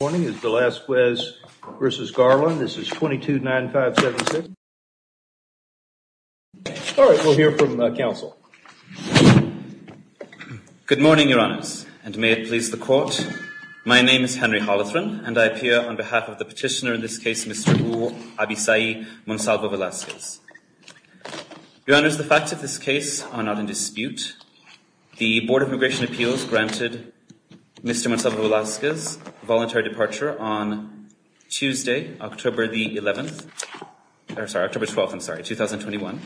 Good morning, it's Velazquez v. Garland. This is 22-9576. All right, we'll hear from the counsel. Good morning, Your Honors, and may it please the Court. My name is Henry Holothron, and I appear on behalf of the petitioner in this case, Mr. Abisai Monsalvo Velazquez. Your Honors, the facts of this case are not in dispute. The Board of Immigration Appeals granted Mr. Monsalvo Velazquez a voluntary departure on Tuesday, October the 11th. Sorry, October 12th, I'm sorry, 2021.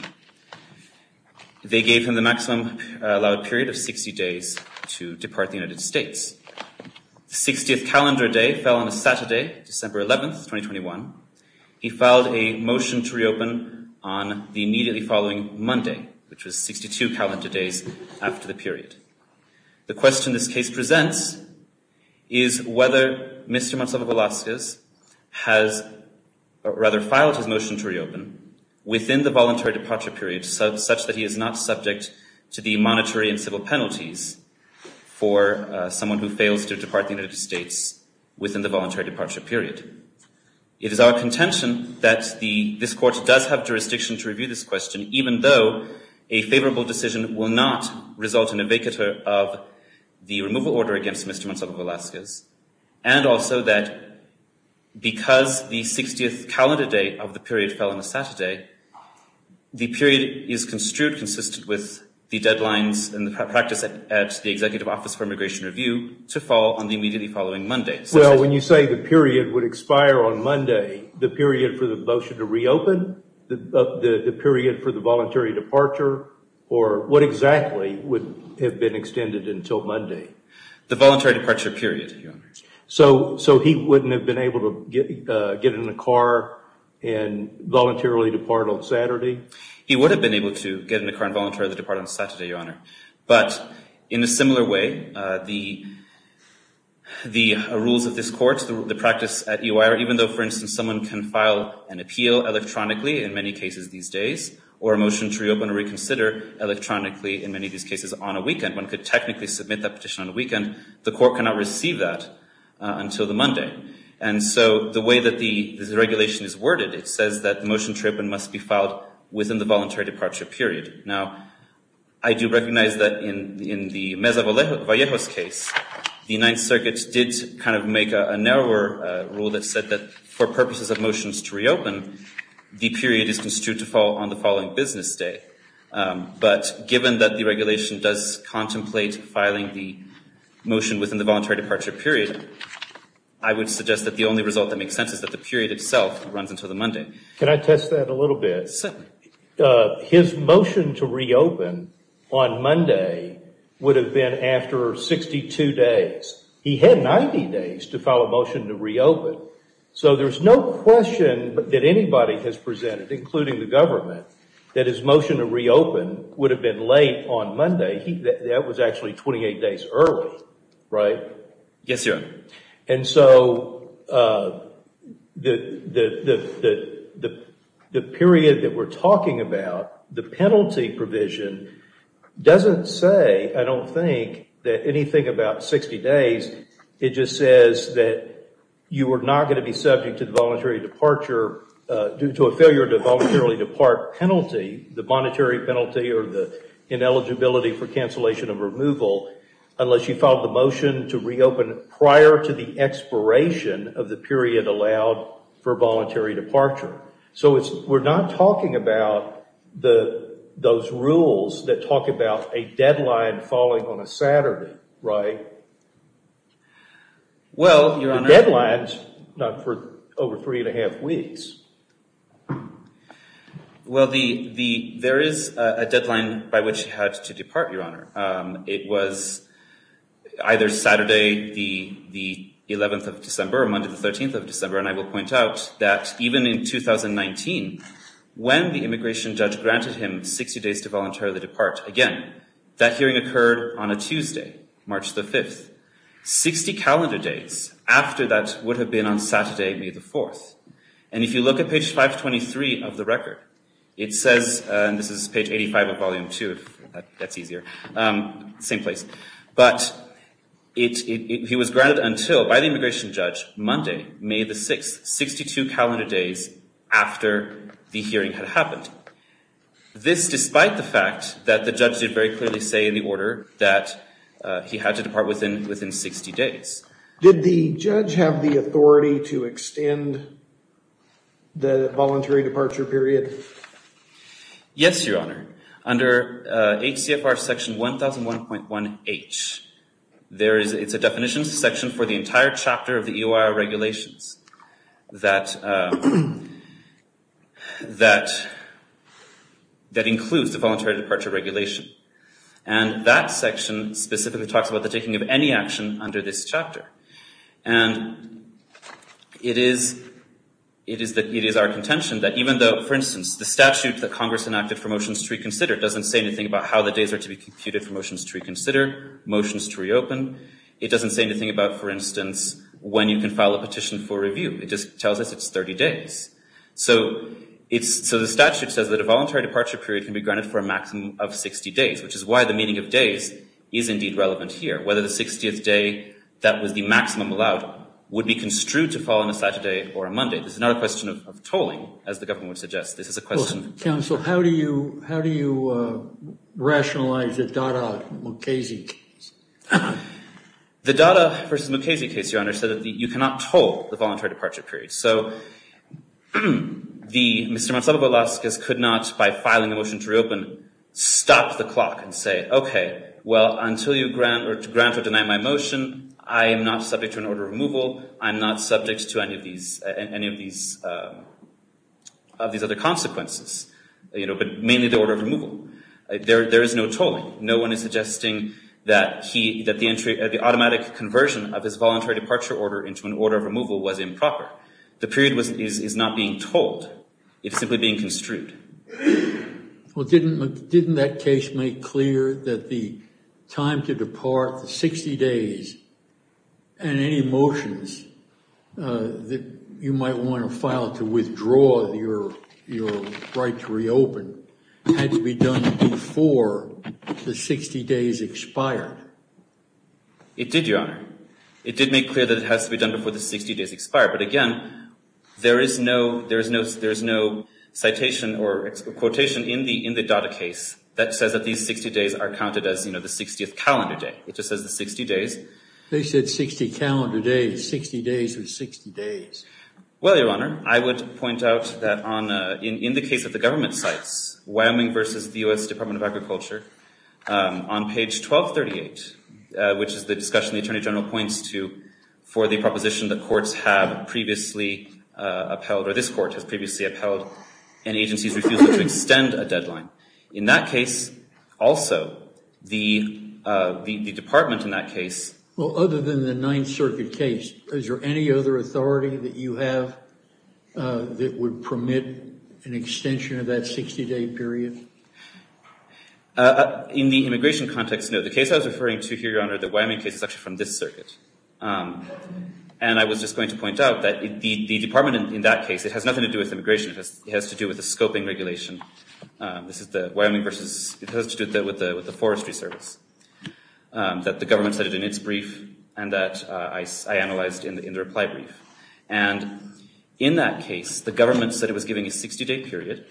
They gave him the maximum allowed period of 60 days to depart the United States. The 60th calendar day fell on a Saturday, December 11th, 2021. He filed a motion to reopen on the immediately following Monday, which was 62 calendar days after the period. The question this case presents is whether Mr. Monsalvo Velazquez has rather filed his motion to reopen within the voluntary departure period, such that he is not subject to the monetary and civil penalties for someone who fails to depart the United States within the voluntary departure period. It is our contention that this Court does have jurisdiction to review this question, even though a favorable decision will not result in a vacater of the removal order against Mr. Monsalvo Velazquez, and also that because the 60th calendar day of the period fell on a Saturday, the period is construed consistent with the deadlines and the practice at the Executive Office for Immigration Review to fall on the immediately following Monday. Well, when you say the period would expire on Monday, the period for the motion to reopen, the period for the voluntary departure, or what exactly would have been extended until Monday? The voluntary departure period, Your Honor. So he wouldn't have been able to get in a car and voluntarily depart on Saturday? He would have been able to get in a car and voluntarily depart on Saturday, Your Honor. But in a similar way, the rules of this Court, the practice at EOI, even though, for instance, someone can file an appeal electronically in many cases these days, or a motion to reopen or reconsider electronically in many of these cases on a weekend, one could technically submit that petition on a weekend, the Court cannot receive that until the Monday. And so the way that this regulation is worded, it says that the motion to reopen must be filed within the voluntary departure period. Now, I do recognize that in the Meza-Vallejos case, the Ninth Circuit did kind of make a narrower rule that said that for purposes of motions to reopen, the period is construed to fall on the following business day. But given that the regulation does contemplate filing the motion within the voluntary departure period, I would suggest that the only result that makes sense is that the period itself runs until the Monday. Can I test that a little bit? Certainly. His motion to reopen on Monday would have been after 62 days. He had 90 days to file a motion to reopen. So there's no question that anybody has presented, including the government, that his motion to reopen would have been late on Monday. That was actually 28 days early, right? Yes, Your Honor. And so the period that we're talking about, the penalty provision, doesn't say, I don't think, that anything about 60 days. It just says that you are not going to be subject to the voluntary departure due to a failure to voluntarily depart penalty, the monetary penalty or the ineligibility for cancellation of removal, unless you filed the motion to reopen prior to the expiration of the period allowed for voluntary departure. So we're not talking about those rules that talk about a deadline falling on a Saturday, right? Well, Your Honor. The deadline's not for over three and a half weeks. Well, there is a deadline by which you had to depart, Your Honor. It was either Saturday, the 11th of December, or Monday, the 13th of December. And I will point out that even in 2019, when the immigration judge granted him 60 days to voluntarily depart, again, that hearing occurred on a Tuesday, March the 5th. Sixty calendar dates after that would have been on Saturday, May the 4th. And if you look at page 523 of the record, it says, and this is page 85 of volume two, if that's easier, same place. But he was granted until, by the immigration judge, Monday, May the 6th, 62 calendar days after the hearing had happened. This despite the fact that the judge did very clearly say in the order that he had to depart within 60 days. Did the judge have the authority to extend the voluntary departure period? Yes, Your Honor. Under HCFR section 1001.1H, it's a definition section for the entire chapter of the EOR regulations that includes the voluntary departure regulation. And that section specifically talks about the taking of any action under this chapter. And it is our contention that even though, for instance, the statute that Congress enacted for motions to reconsider doesn't say anything about how the days are to be computed for motions to reconsider, motions to reopen. It doesn't say anything about, for instance, when you can file a petition for review. It just tells us it's 30 days. So the statute says that a voluntary departure period can be granted for a maximum of 60 days, which is why the meaning of days is indeed relevant here. Whether the 60th day that was the maximum allowed would be construed to fall on a Saturday or a Monday. This is not a question of tolling, as the government would suggest. Counsel, how do you rationalize the Dada v. Mukasey case? The Dada v. Mukasey case, Your Honor, said that you cannot toll the voluntary departure period. So Mr. Monsalvo Velasquez could not, by filing a motion to reopen, stop the clock and say, OK, well, until you grant or deny my motion, I am not subject to an order of removal. I'm not subject to any of these other consequences, but mainly the order of removal. There is no tolling. No one is suggesting that the automatic conversion of his voluntary departure order into an order of removal was improper. The period is not being tolled. It's simply being construed. Well, didn't that case make clear that the time to depart, the 60 days, and any motions that you might want to file to withdraw your right to reopen had to be done before the 60 days expired? It did, Your Honor. It did make clear that it has to be done before the 60 days expire. But again, there is no citation or quotation in the Dada case that says that these 60 days are counted as the 60th calendar day. It just says the 60 days. They said 60 calendar days. 60 days are 60 days. Well, Your Honor, I would point out that in the case of the government sites, Wyoming versus the U.S. Department of Agriculture, on page 1238, which is the discussion the Attorney General points to for the proposition that courts have previously upheld, or this court has previously upheld, and agencies refused to extend a deadline. In that case, also, the department in that case- Well, other than the Ninth Circuit case, is there any other authority that you have that would permit an extension of that 60-day period? In the immigration context, no. The case I was referring to here, Your Honor, the Wyoming case, is actually from this circuit. And I was just going to point out that the department in that case, it has nothing to do with immigration. It has to do with the scoping regulation. This is the Wyoming versus- It has to do with the forestry service that the government said in its brief, and that I analyzed in the reply brief. And in that case, the government said it was giving a 60-day period,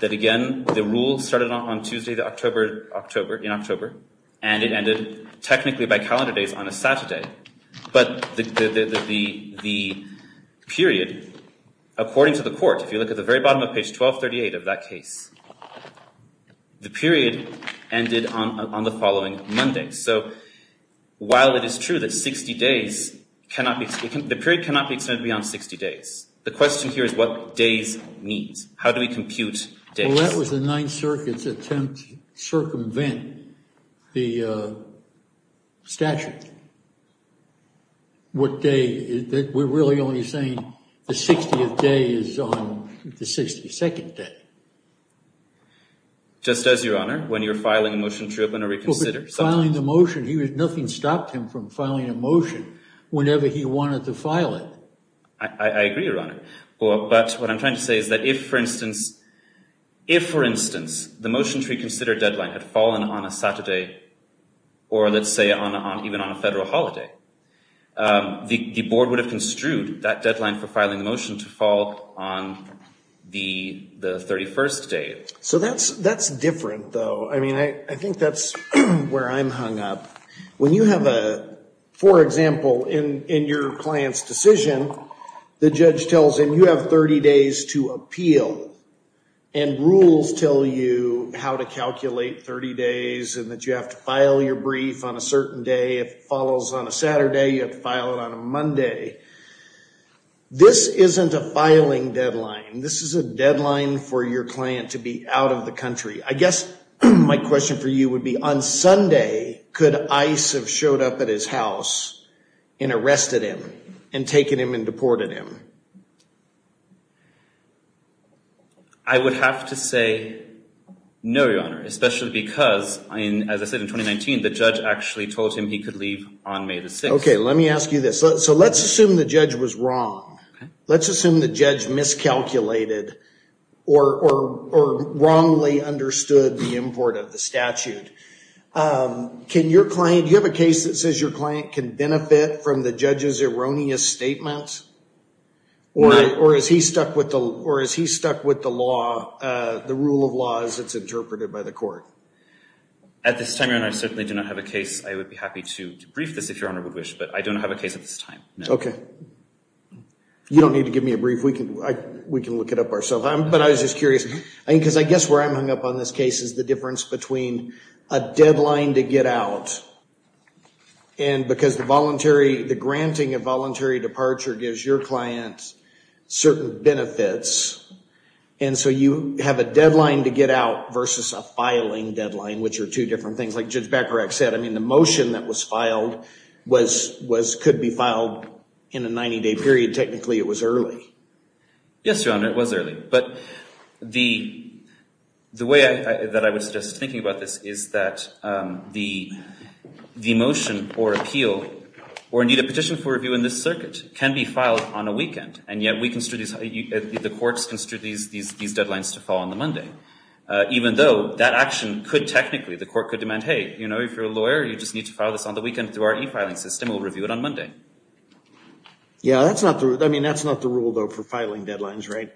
that again, the rule started on Tuesday in October, and it ended technically by calendar days on a Saturday. But the period, according to the court, if you look at the very bottom of page 1238 of that case, the period ended on the following Monday. So while it is true that 60 days cannot be- the period cannot be extended beyond 60 days. The question here is what days means. How do we compute days? Well, that was the Ninth Circuit's attempt to circumvent the statute. What day- we're really only saying the 60th day is on the 62nd day. Just as, Your Honor, when you're filing a motion to reopen or reconsider. But filing the motion, nothing stopped him from filing a motion whenever he wanted to file it. I agree, Your Honor. But what I'm trying to say is that if, for instance, if, for instance, the motion to reconsider deadline had fallen on a Saturday or, let's say, even on a federal holiday, the board would have construed that deadline for filing the motion to fall on the 31st day. So that's different, though. I mean, I think that's where I'm hung up. When you have a- for example, in your client's decision, the judge tells him you have 30 days to appeal. And rules tell you how to calculate 30 days and that you have to file your brief on a certain day. If it follows on a Saturday, you have to file it on a Monday. This isn't a filing deadline. This is a deadline for your client to be out of the country. I guess my question for you would be, on Sunday, could ICE have showed up at his house and arrested him and taken him and deported him? I would have to say no, Your Honor, especially because, as I said, in 2019, the judge actually told him he could leave on May the 6th. Okay, let me ask you this. So let's assume the judge was wrong. Okay. Let's assume the judge miscalculated or wrongly understood the import of the statute. Can your client- do you have a case that says your client can benefit from the judge's erroneous statements? No. Or is he stuck with the law- the rule of law as it's interpreted by the court? At this time, Your Honor, I certainly do not have a case. I would be happy to brief this, if Your Honor would wish, but I don't have a case at this time. Okay. You don't need to give me a brief. We can look it up ourselves. But I was just curious, because I guess where I'm hung up on this case is the difference between a deadline to get out and because the voluntary- the granting of voluntary departure gives your client certain benefits, and so you have a deadline to get out versus a filing deadline, which are two different things. Like Judge Bacharach said, I mean, the motion that was filed was- could be filed in a 90-day period. Technically, it was early. Yes, Your Honor, it was early. But the way that I was just thinking about this is that the motion or appeal, or indeed a petition for review in this circuit, can be filed on a weekend, and yet we construe these- the courts construe these deadlines to fall on the Monday, even though that action could technically- the court could demand, hey, you know, if you're a lawyer, you just need to file this on the weekend through our e-filing system. We'll review it on Monday. Yeah, that's not the- I mean, that's not the rule, though, for filing deadlines, right?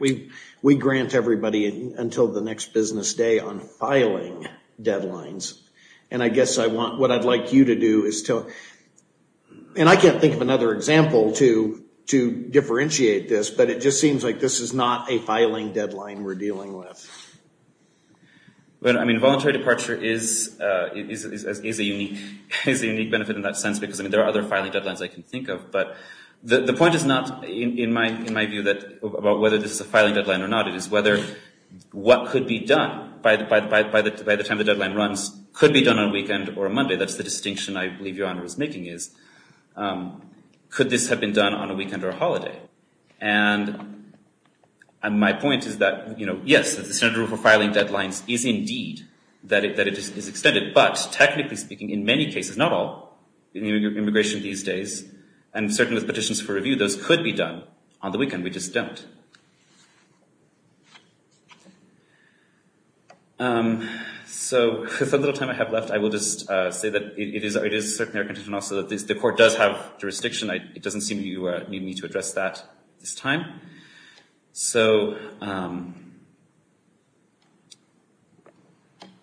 We grant everybody until the next business day on filing deadlines, and I guess I want- what I'd like you to do is to- and I can't think of another example to differentiate this, but it just seems like this is not a filing deadline we're dealing with. Well, I mean, voluntary departure is a unique benefit in that sense, because, I mean, there are other filing deadlines I can think of, but the point is not, in my view, about whether this is a filing deadline or not. It is whether what could be done by the time the deadline runs could be done on a weekend or a Monday. That's the distinction I believe Your Honor is making, is could this have been done on a weekend or a holiday? And my point is that, you know, yes, the standard rule for filing deadlines is indeed that it is extended, but technically speaking, in many cases, not all, in immigration these days, and certainly with petitions for review, those could be done on the weekend. We just don't. So with a little time I have left, I will just say that it is certainly our intention also that the court does have jurisdiction. It doesn't seem you need me to address that this time. So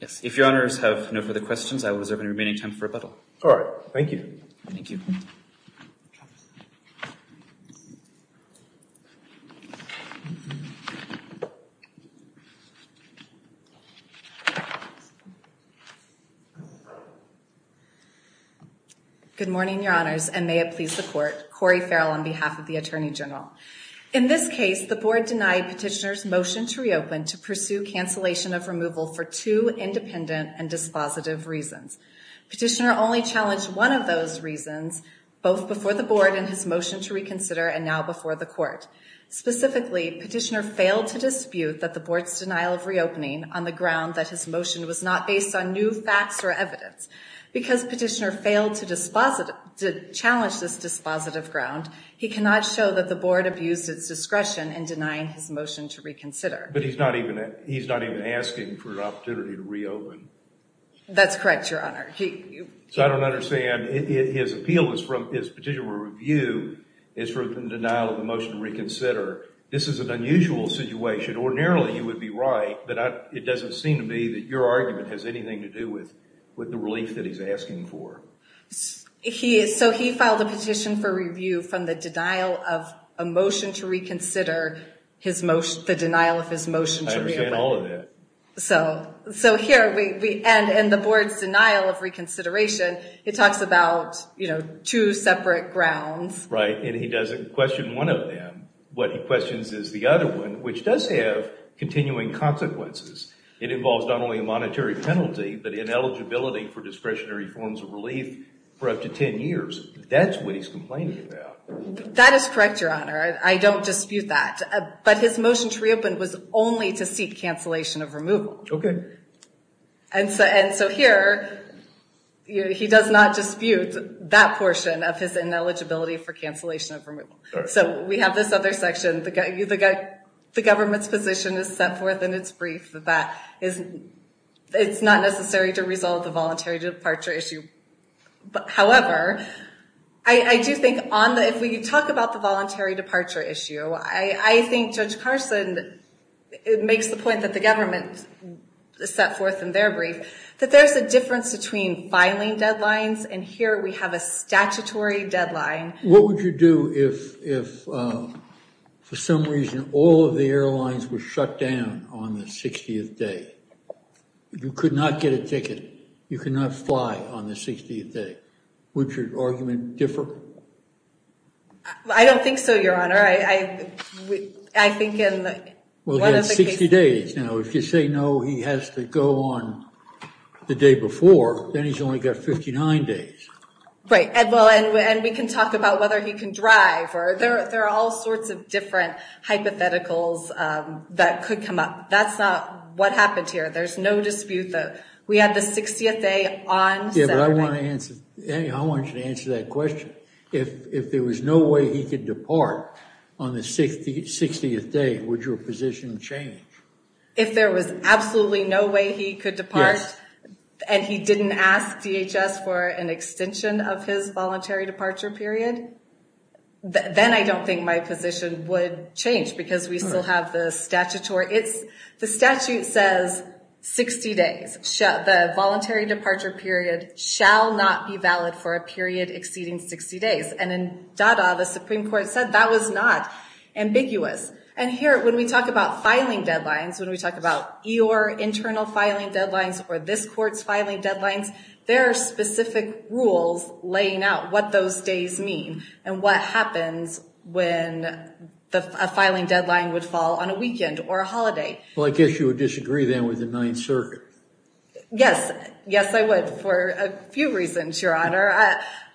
if Your Honors have no further questions, I will reserve the remaining time for rebuttal. All right. Thank you. Thank you. Thank you. Good morning, Your Honors, and may it please the court. Corey Farrell on behalf of the Attorney General. In this case, the board denied petitioner's motion to reopen to pursue cancellation of removal for two independent and dispositive reasons. Petitioner only challenged one of those reasons, both before the board in his motion to reconsider and now before the court. Specifically, petitioner failed to dispute that the board's denial of reopening on the ground that his motion was not based on new facts or evidence. Because petitioner failed to challenge this dispositive ground, he cannot show that the board abused its discretion in denying his motion to reconsider. But he's not even asking for an opportunity to reopen. That's correct, Your Honor. So I don't understand. His appeal is from his petition to review is from the denial of the motion to reconsider. This is an unusual situation. Ordinarily, you would be right, but it doesn't seem to me that your argument has anything to do with the relief that he's asking for. So he filed a petition for review from the denial of a motion to reconsider, the denial of his motion to reopen. I understand all of that. So here we end in the board's denial of reconsideration. It talks about two separate grounds. Right. And he doesn't question one of them. What he questions is the other one, which does have continuing consequences. It involves not only a monetary penalty, but ineligibility for discretionary forms of relief for up to 10 years. That's what he's complaining about. That is correct, Your Honor. I don't dispute that. But his motion to reopen was only to seek cancellation of removal. Okay. And so here he does not dispute that portion of his ineligibility for cancellation of removal. So we have this other section. The government's position is set forth in its brief that it's not necessary to resolve the voluntary departure issue. However, I do think if we talk about the voluntary departure issue, I think Judge Carson makes the point that the government set forth in their brief that there's a difference between filing deadlines, and here we have a statutory deadline. What would you do if for some reason all of the airlines were shut down on the 60th day? You could not get a ticket. You could not fly on the 60th day. Would your argument differ? I don't think so, Your Honor. I think in one of the cases. Well, he has 60 days now. If you say no, he has to go on the day before, then he's only got 59 days. Right. And we can talk about whether he can drive. There are all sorts of different hypotheticals that could come up. That's not what happened here. There's no dispute that we had the 60th day on Saturday. Yeah, but I want you to answer that question. If there was no way he could depart on the 60th day, would your position change? If there was absolutely no way he could depart and he didn't ask DHS for an extension of his voluntary departure period, then I don't think my position would change because we still have the statutory. The statute says 60 days. The voluntary departure period shall not be valid for a period exceeding 60 days. And in DADA, the Supreme Court said that was not ambiguous. And here, when we talk about filing deadlines, when we talk about your internal filing deadlines or this court's filing deadlines, there are specific rules laying out what those days mean and what happens when a filing deadline would fall on a weekend or a holiday. Well, I guess you would disagree then with the Ninth Circuit. Yes. Yes, I would for a few reasons, Your Honor.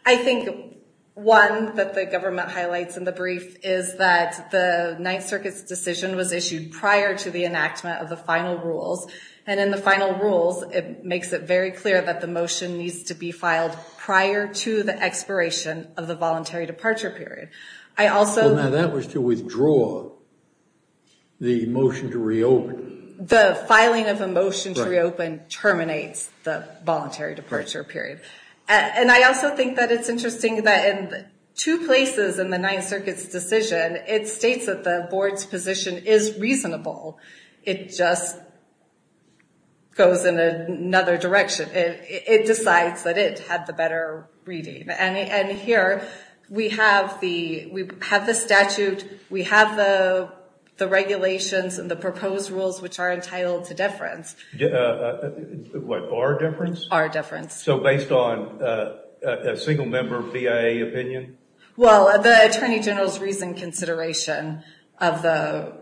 I think one that the government highlights in the brief is that the Ninth Circuit's decision was issued prior to the enactment of the final rules. And in the final rules, it makes it very clear that the motion needs to be filed prior to the expiration of the voluntary departure period. Now, that was to withdraw the motion to reopen. The filing of a motion to reopen terminates the voluntary departure period. And I also think that it's interesting that in two places in the Ninth Circuit's decision, it states that the board's position is reasonable. It just goes in another direction. It decides that it had the better reading. And here, we have the statute. We have the regulations and the proposed rules, which are entitled to deference. What, our deference? Our deference. So based on a single-member BIA opinion? Well, the Attorney General's recent consideration of the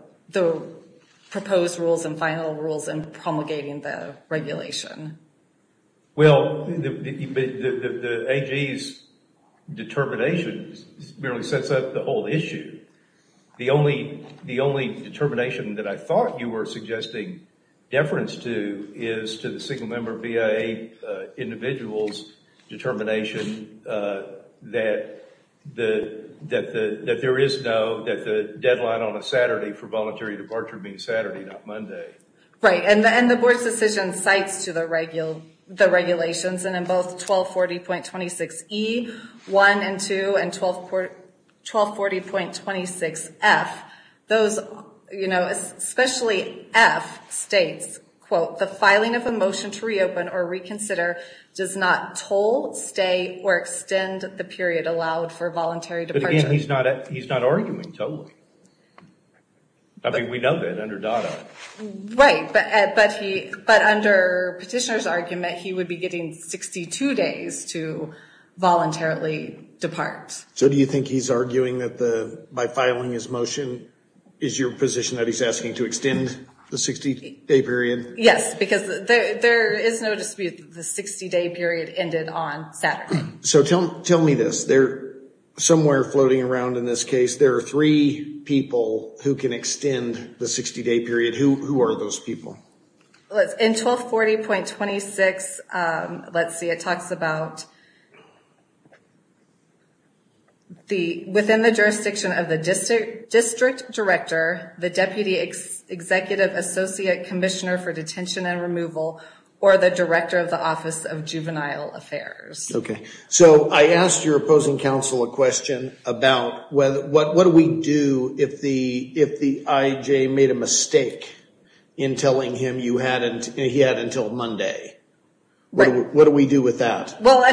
proposed rules and final rules in promulgating the regulation. Well, the AG's determination merely sets up the whole issue. The only determination that I thought you were suggesting deference to is to the single-member BIA individual's determination that there is no, that the deadline on a Saturday for voluntary departure being Saturday, not Monday. Right. And the board's decision cites to the regulations. And in both 1240.26E, 1, and 2, and 1240.26F, those, you know, especially F states, quote, the filing of a motion to reopen or reconsider does not toll, stay, or extend the period allowed for voluntary departure. But again, he's not arguing tolling. I mean, we know that under DOTA. Right, but under Petitioner's argument, he would be getting 62 days to voluntarily depart. So do you think he's arguing that by filing his motion is your position that he's asking to extend the 60-day period? Yes, because there is no dispute that the 60-day period ended on Saturday. So tell me this. Somewhere floating around in this case, there are three people who can extend the 60-day period. Who are those people? In 1240.26, let's see, it talks about within the jurisdiction of the district director, the Deputy Executive Associate Commissioner for Detention and Removal, or the Director of the Office of Juvenile Affairs. Okay, so I asked your opposing counsel a question about what do we do if the IJ made a mistake in telling him he had until Monday. What do we do with that? Well,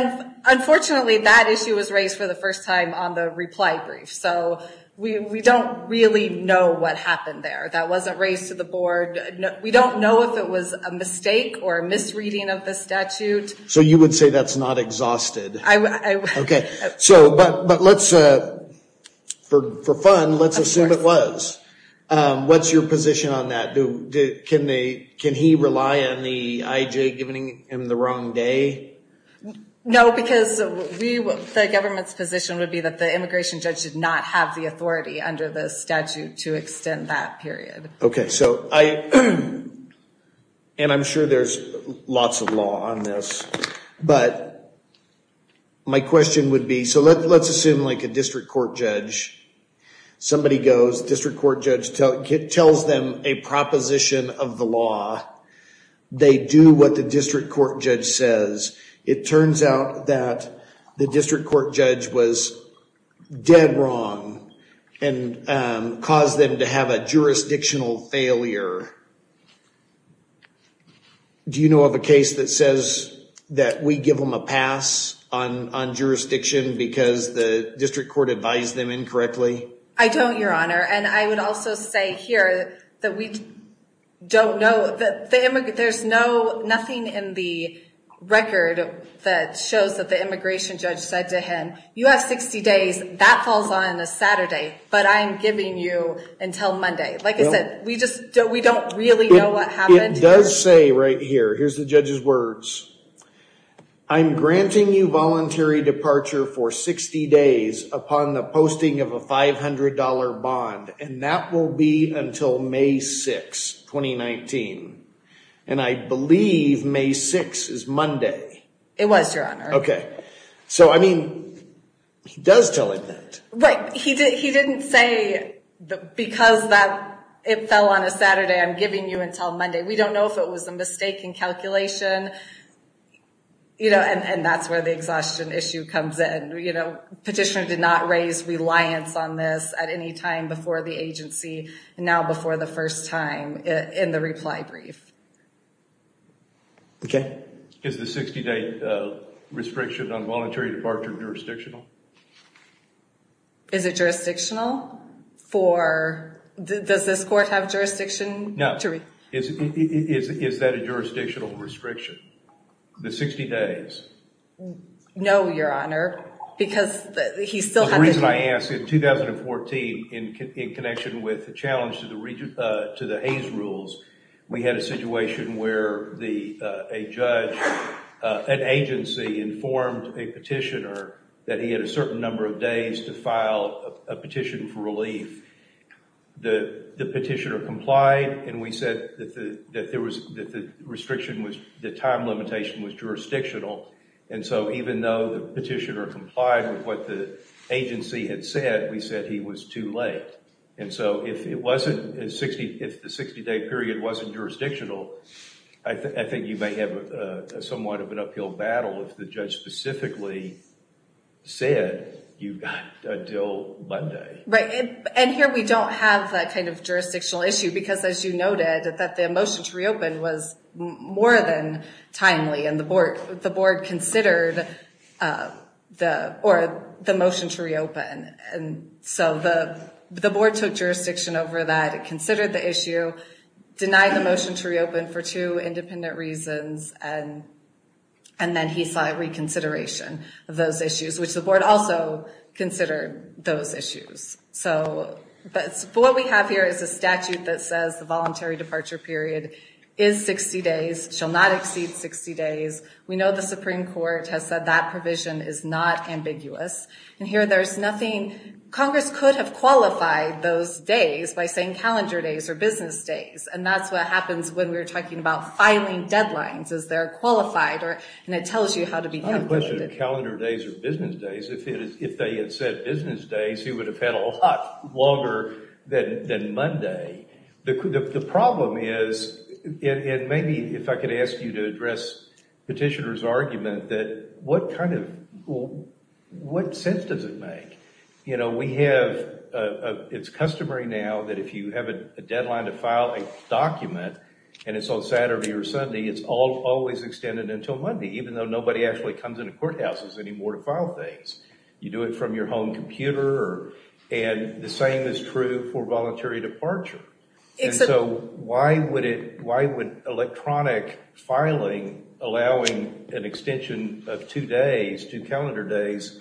unfortunately, that issue was raised for the first time on the reply brief. So we don't really know what happened there. That wasn't raised to the board. We don't know if it was a mistake or a misreading of the statute. So you would say that's not exhausted? I would. Okay, so but let's, for fun, let's assume it was. What's your position on that? Can he rely on the IJ giving him the wrong day? No, because the government's position would be that the immigration judge did not have the authority under the statute to extend that period. Okay, so I'm sure there's lots of law on this. But my question would be, so let's assume like a district court judge. Somebody goes, district court judge tells them a proposition of the law. They do what the district court judge says. It turns out that the district court judge was dead wrong and caused them to have a jurisdictional failure. Do you know of a case that says that we give them a pass on jurisdiction because the district court advised them incorrectly? I don't, Your Honor. And I would also say here that we don't know. There's nothing in the record that shows that the immigration judge said to him, you have 60 days. That falls on a Saturday. But I'm giving you until Monday. Like I said, we don't really know what happened. It does say right here, here's the judge's words. I'm granting you voluntary departure for 60 days upon the posting of a $500 bond. And that will be until May 6, 2019. And I believe May 6 is Monday. It was, Your Honor. Okay. So I mean, he does tell him that. Right. He didn't say because it fell on a Saturday, I'm giving you until Monday. We don't know if it was a mistake in calculation. And that's where the exhaustion issue comes in. Petitioner did not raise reliance on this at any time before the agency, now before the first time in the reply brief. Okay. Is the 60-day restriction on voluntary departure jurisdictional? Is it jurisdictional? For, does this court have jurisdiction? No. Is that a jurisdictional restriction? The 60 days? No, Your Honor. Because he still has. The reason I ask, in 2014, in connection with the challenge to the Hays Rules, we had a situation where a judge, an agency, informed a petitioner that he had a certain number of days to file a petition for relief. The petitioner complied, and we said that the time limitation was jurisdictional. And so even though the petitioner complied with what the agency had said, we said he was too late. And so if the 60-day period wasn't jurisdictional, I think you may have somewhat of an uphill battle if the judge specifically said you've got until Monday. Right. And here we don't have that kind of jurisdictional issue because, as you noted, that the motion to reopen was more than timely, and the board considered the motion to reopen. And so the board took jurisdiction over that, considered the issue, denied the motion to reopen for two independent reasons, and then he sought reconsideration of those issues, which the board also considered those issues. But what we have here is a statute that says the voluntary departure period is 60 days, shall not exceed 60 days. We know the Supreme Court has said that provision is not ambiguous. And here there's nothing. Congress could have qualified those days by saying calendar days or business days, and that's what happens when we're talking about filing deadlines is they're qualified, and it tells you how to become qualified. I have a question of calendar days or business days. If they had said business days, he would have had a lot longer than Monday. The problem is, and maybe if I could ask you to address Petitioner's argument, that what kind of – what sense does it make? You know, we have – it's customary now that if you have a deadline to file a document and it's on Saturday or Sunday, it's always extended until Monday, even though nobody actually comes into courthouses anymore to file things. You do it from your home computer, and the same is true for voluntary departure. And so why would it – why would electronic filing allowing an extension of two days, two calendar days,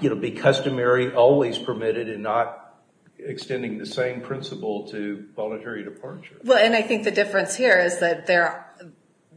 you know, be customary, always permitted, and not extending the same principle to voluntary departure? Well, and I think the difference here is that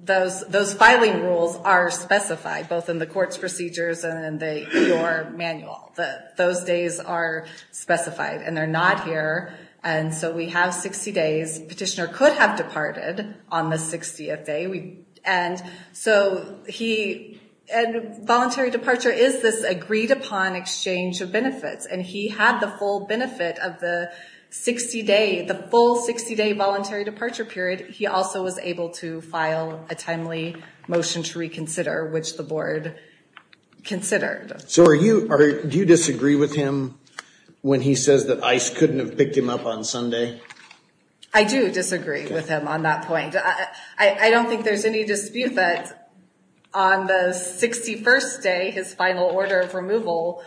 those filing rules are specified, both in the court's procedures and in your manual. Those days are specified, and they're not here, and so we have 60 days. Petitioner could have departed on the 60th day, and so he – and voluntary departure is this agreed-upon exchange of benefits, and he had the full benefit of the 60-day – the full 60-day voluntary departure period. He also was able to file a timely motion to reconsider, which the board considered. So are you – do you disagree with him when he says that ICE couldn't have picked him up on Sunday? I do disagree with him on that point. I don't think there's any dispute that on the 61st day, his final order of removal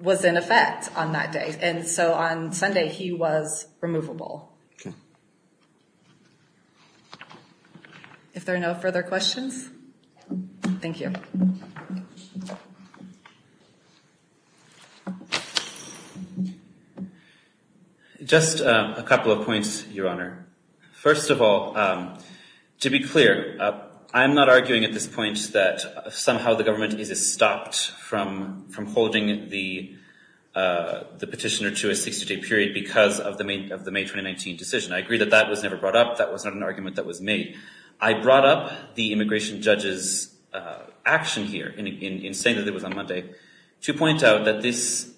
was in effect on that day. And so on Sunday, he was removable. If there are no further questions, thank you. Just a couple of points, Your Honor. First of all, to be clear, I'm not arguing at this point that somehow the government is stopped from holding the petitioner to a 60-day period because of the May 2019 decision. I agree that that was never brought up. That was not an argument that was made. I brought up the immigration judge's action here in saying that it was on Monday to point out that this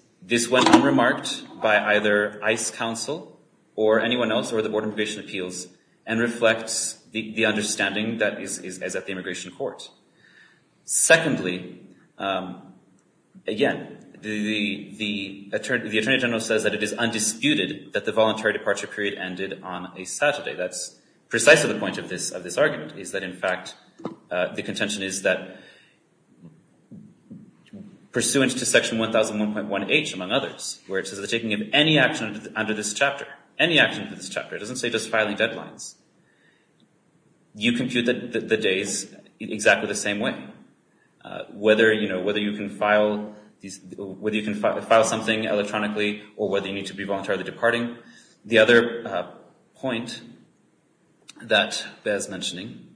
went unremarked by either ICE counsel or anyone else or the Board of Immigration Appeals and reflects the understanding that is at the immigration court. Secondly, again, the attorney general says that it is undisputed that the voluntary departure period ended on a Saturday. That's precisely the point of this argument is that, in fact, the contention is that pursuant to Section 1001.1H, among others, where it says the taking of any action under this chapter, any action for this chapter, it doesn't say just filing deadlines, you compute the days exactly the same way, whether you can file something electronically or whether you need to be voluntarily departing. Finally, the other point that bears mentioning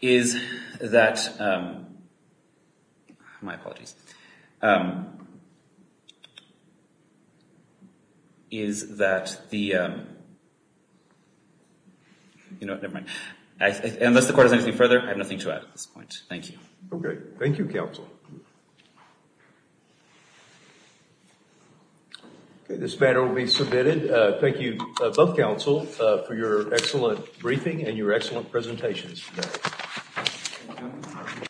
is that the, you know, never mind. Unless the court has anything further, I have nothing to add at this point. Thank you. Okay. Thank you, counsel. This matter will be submitted. Thank you, both counsel, for your excellent briefing and your excellent presentations.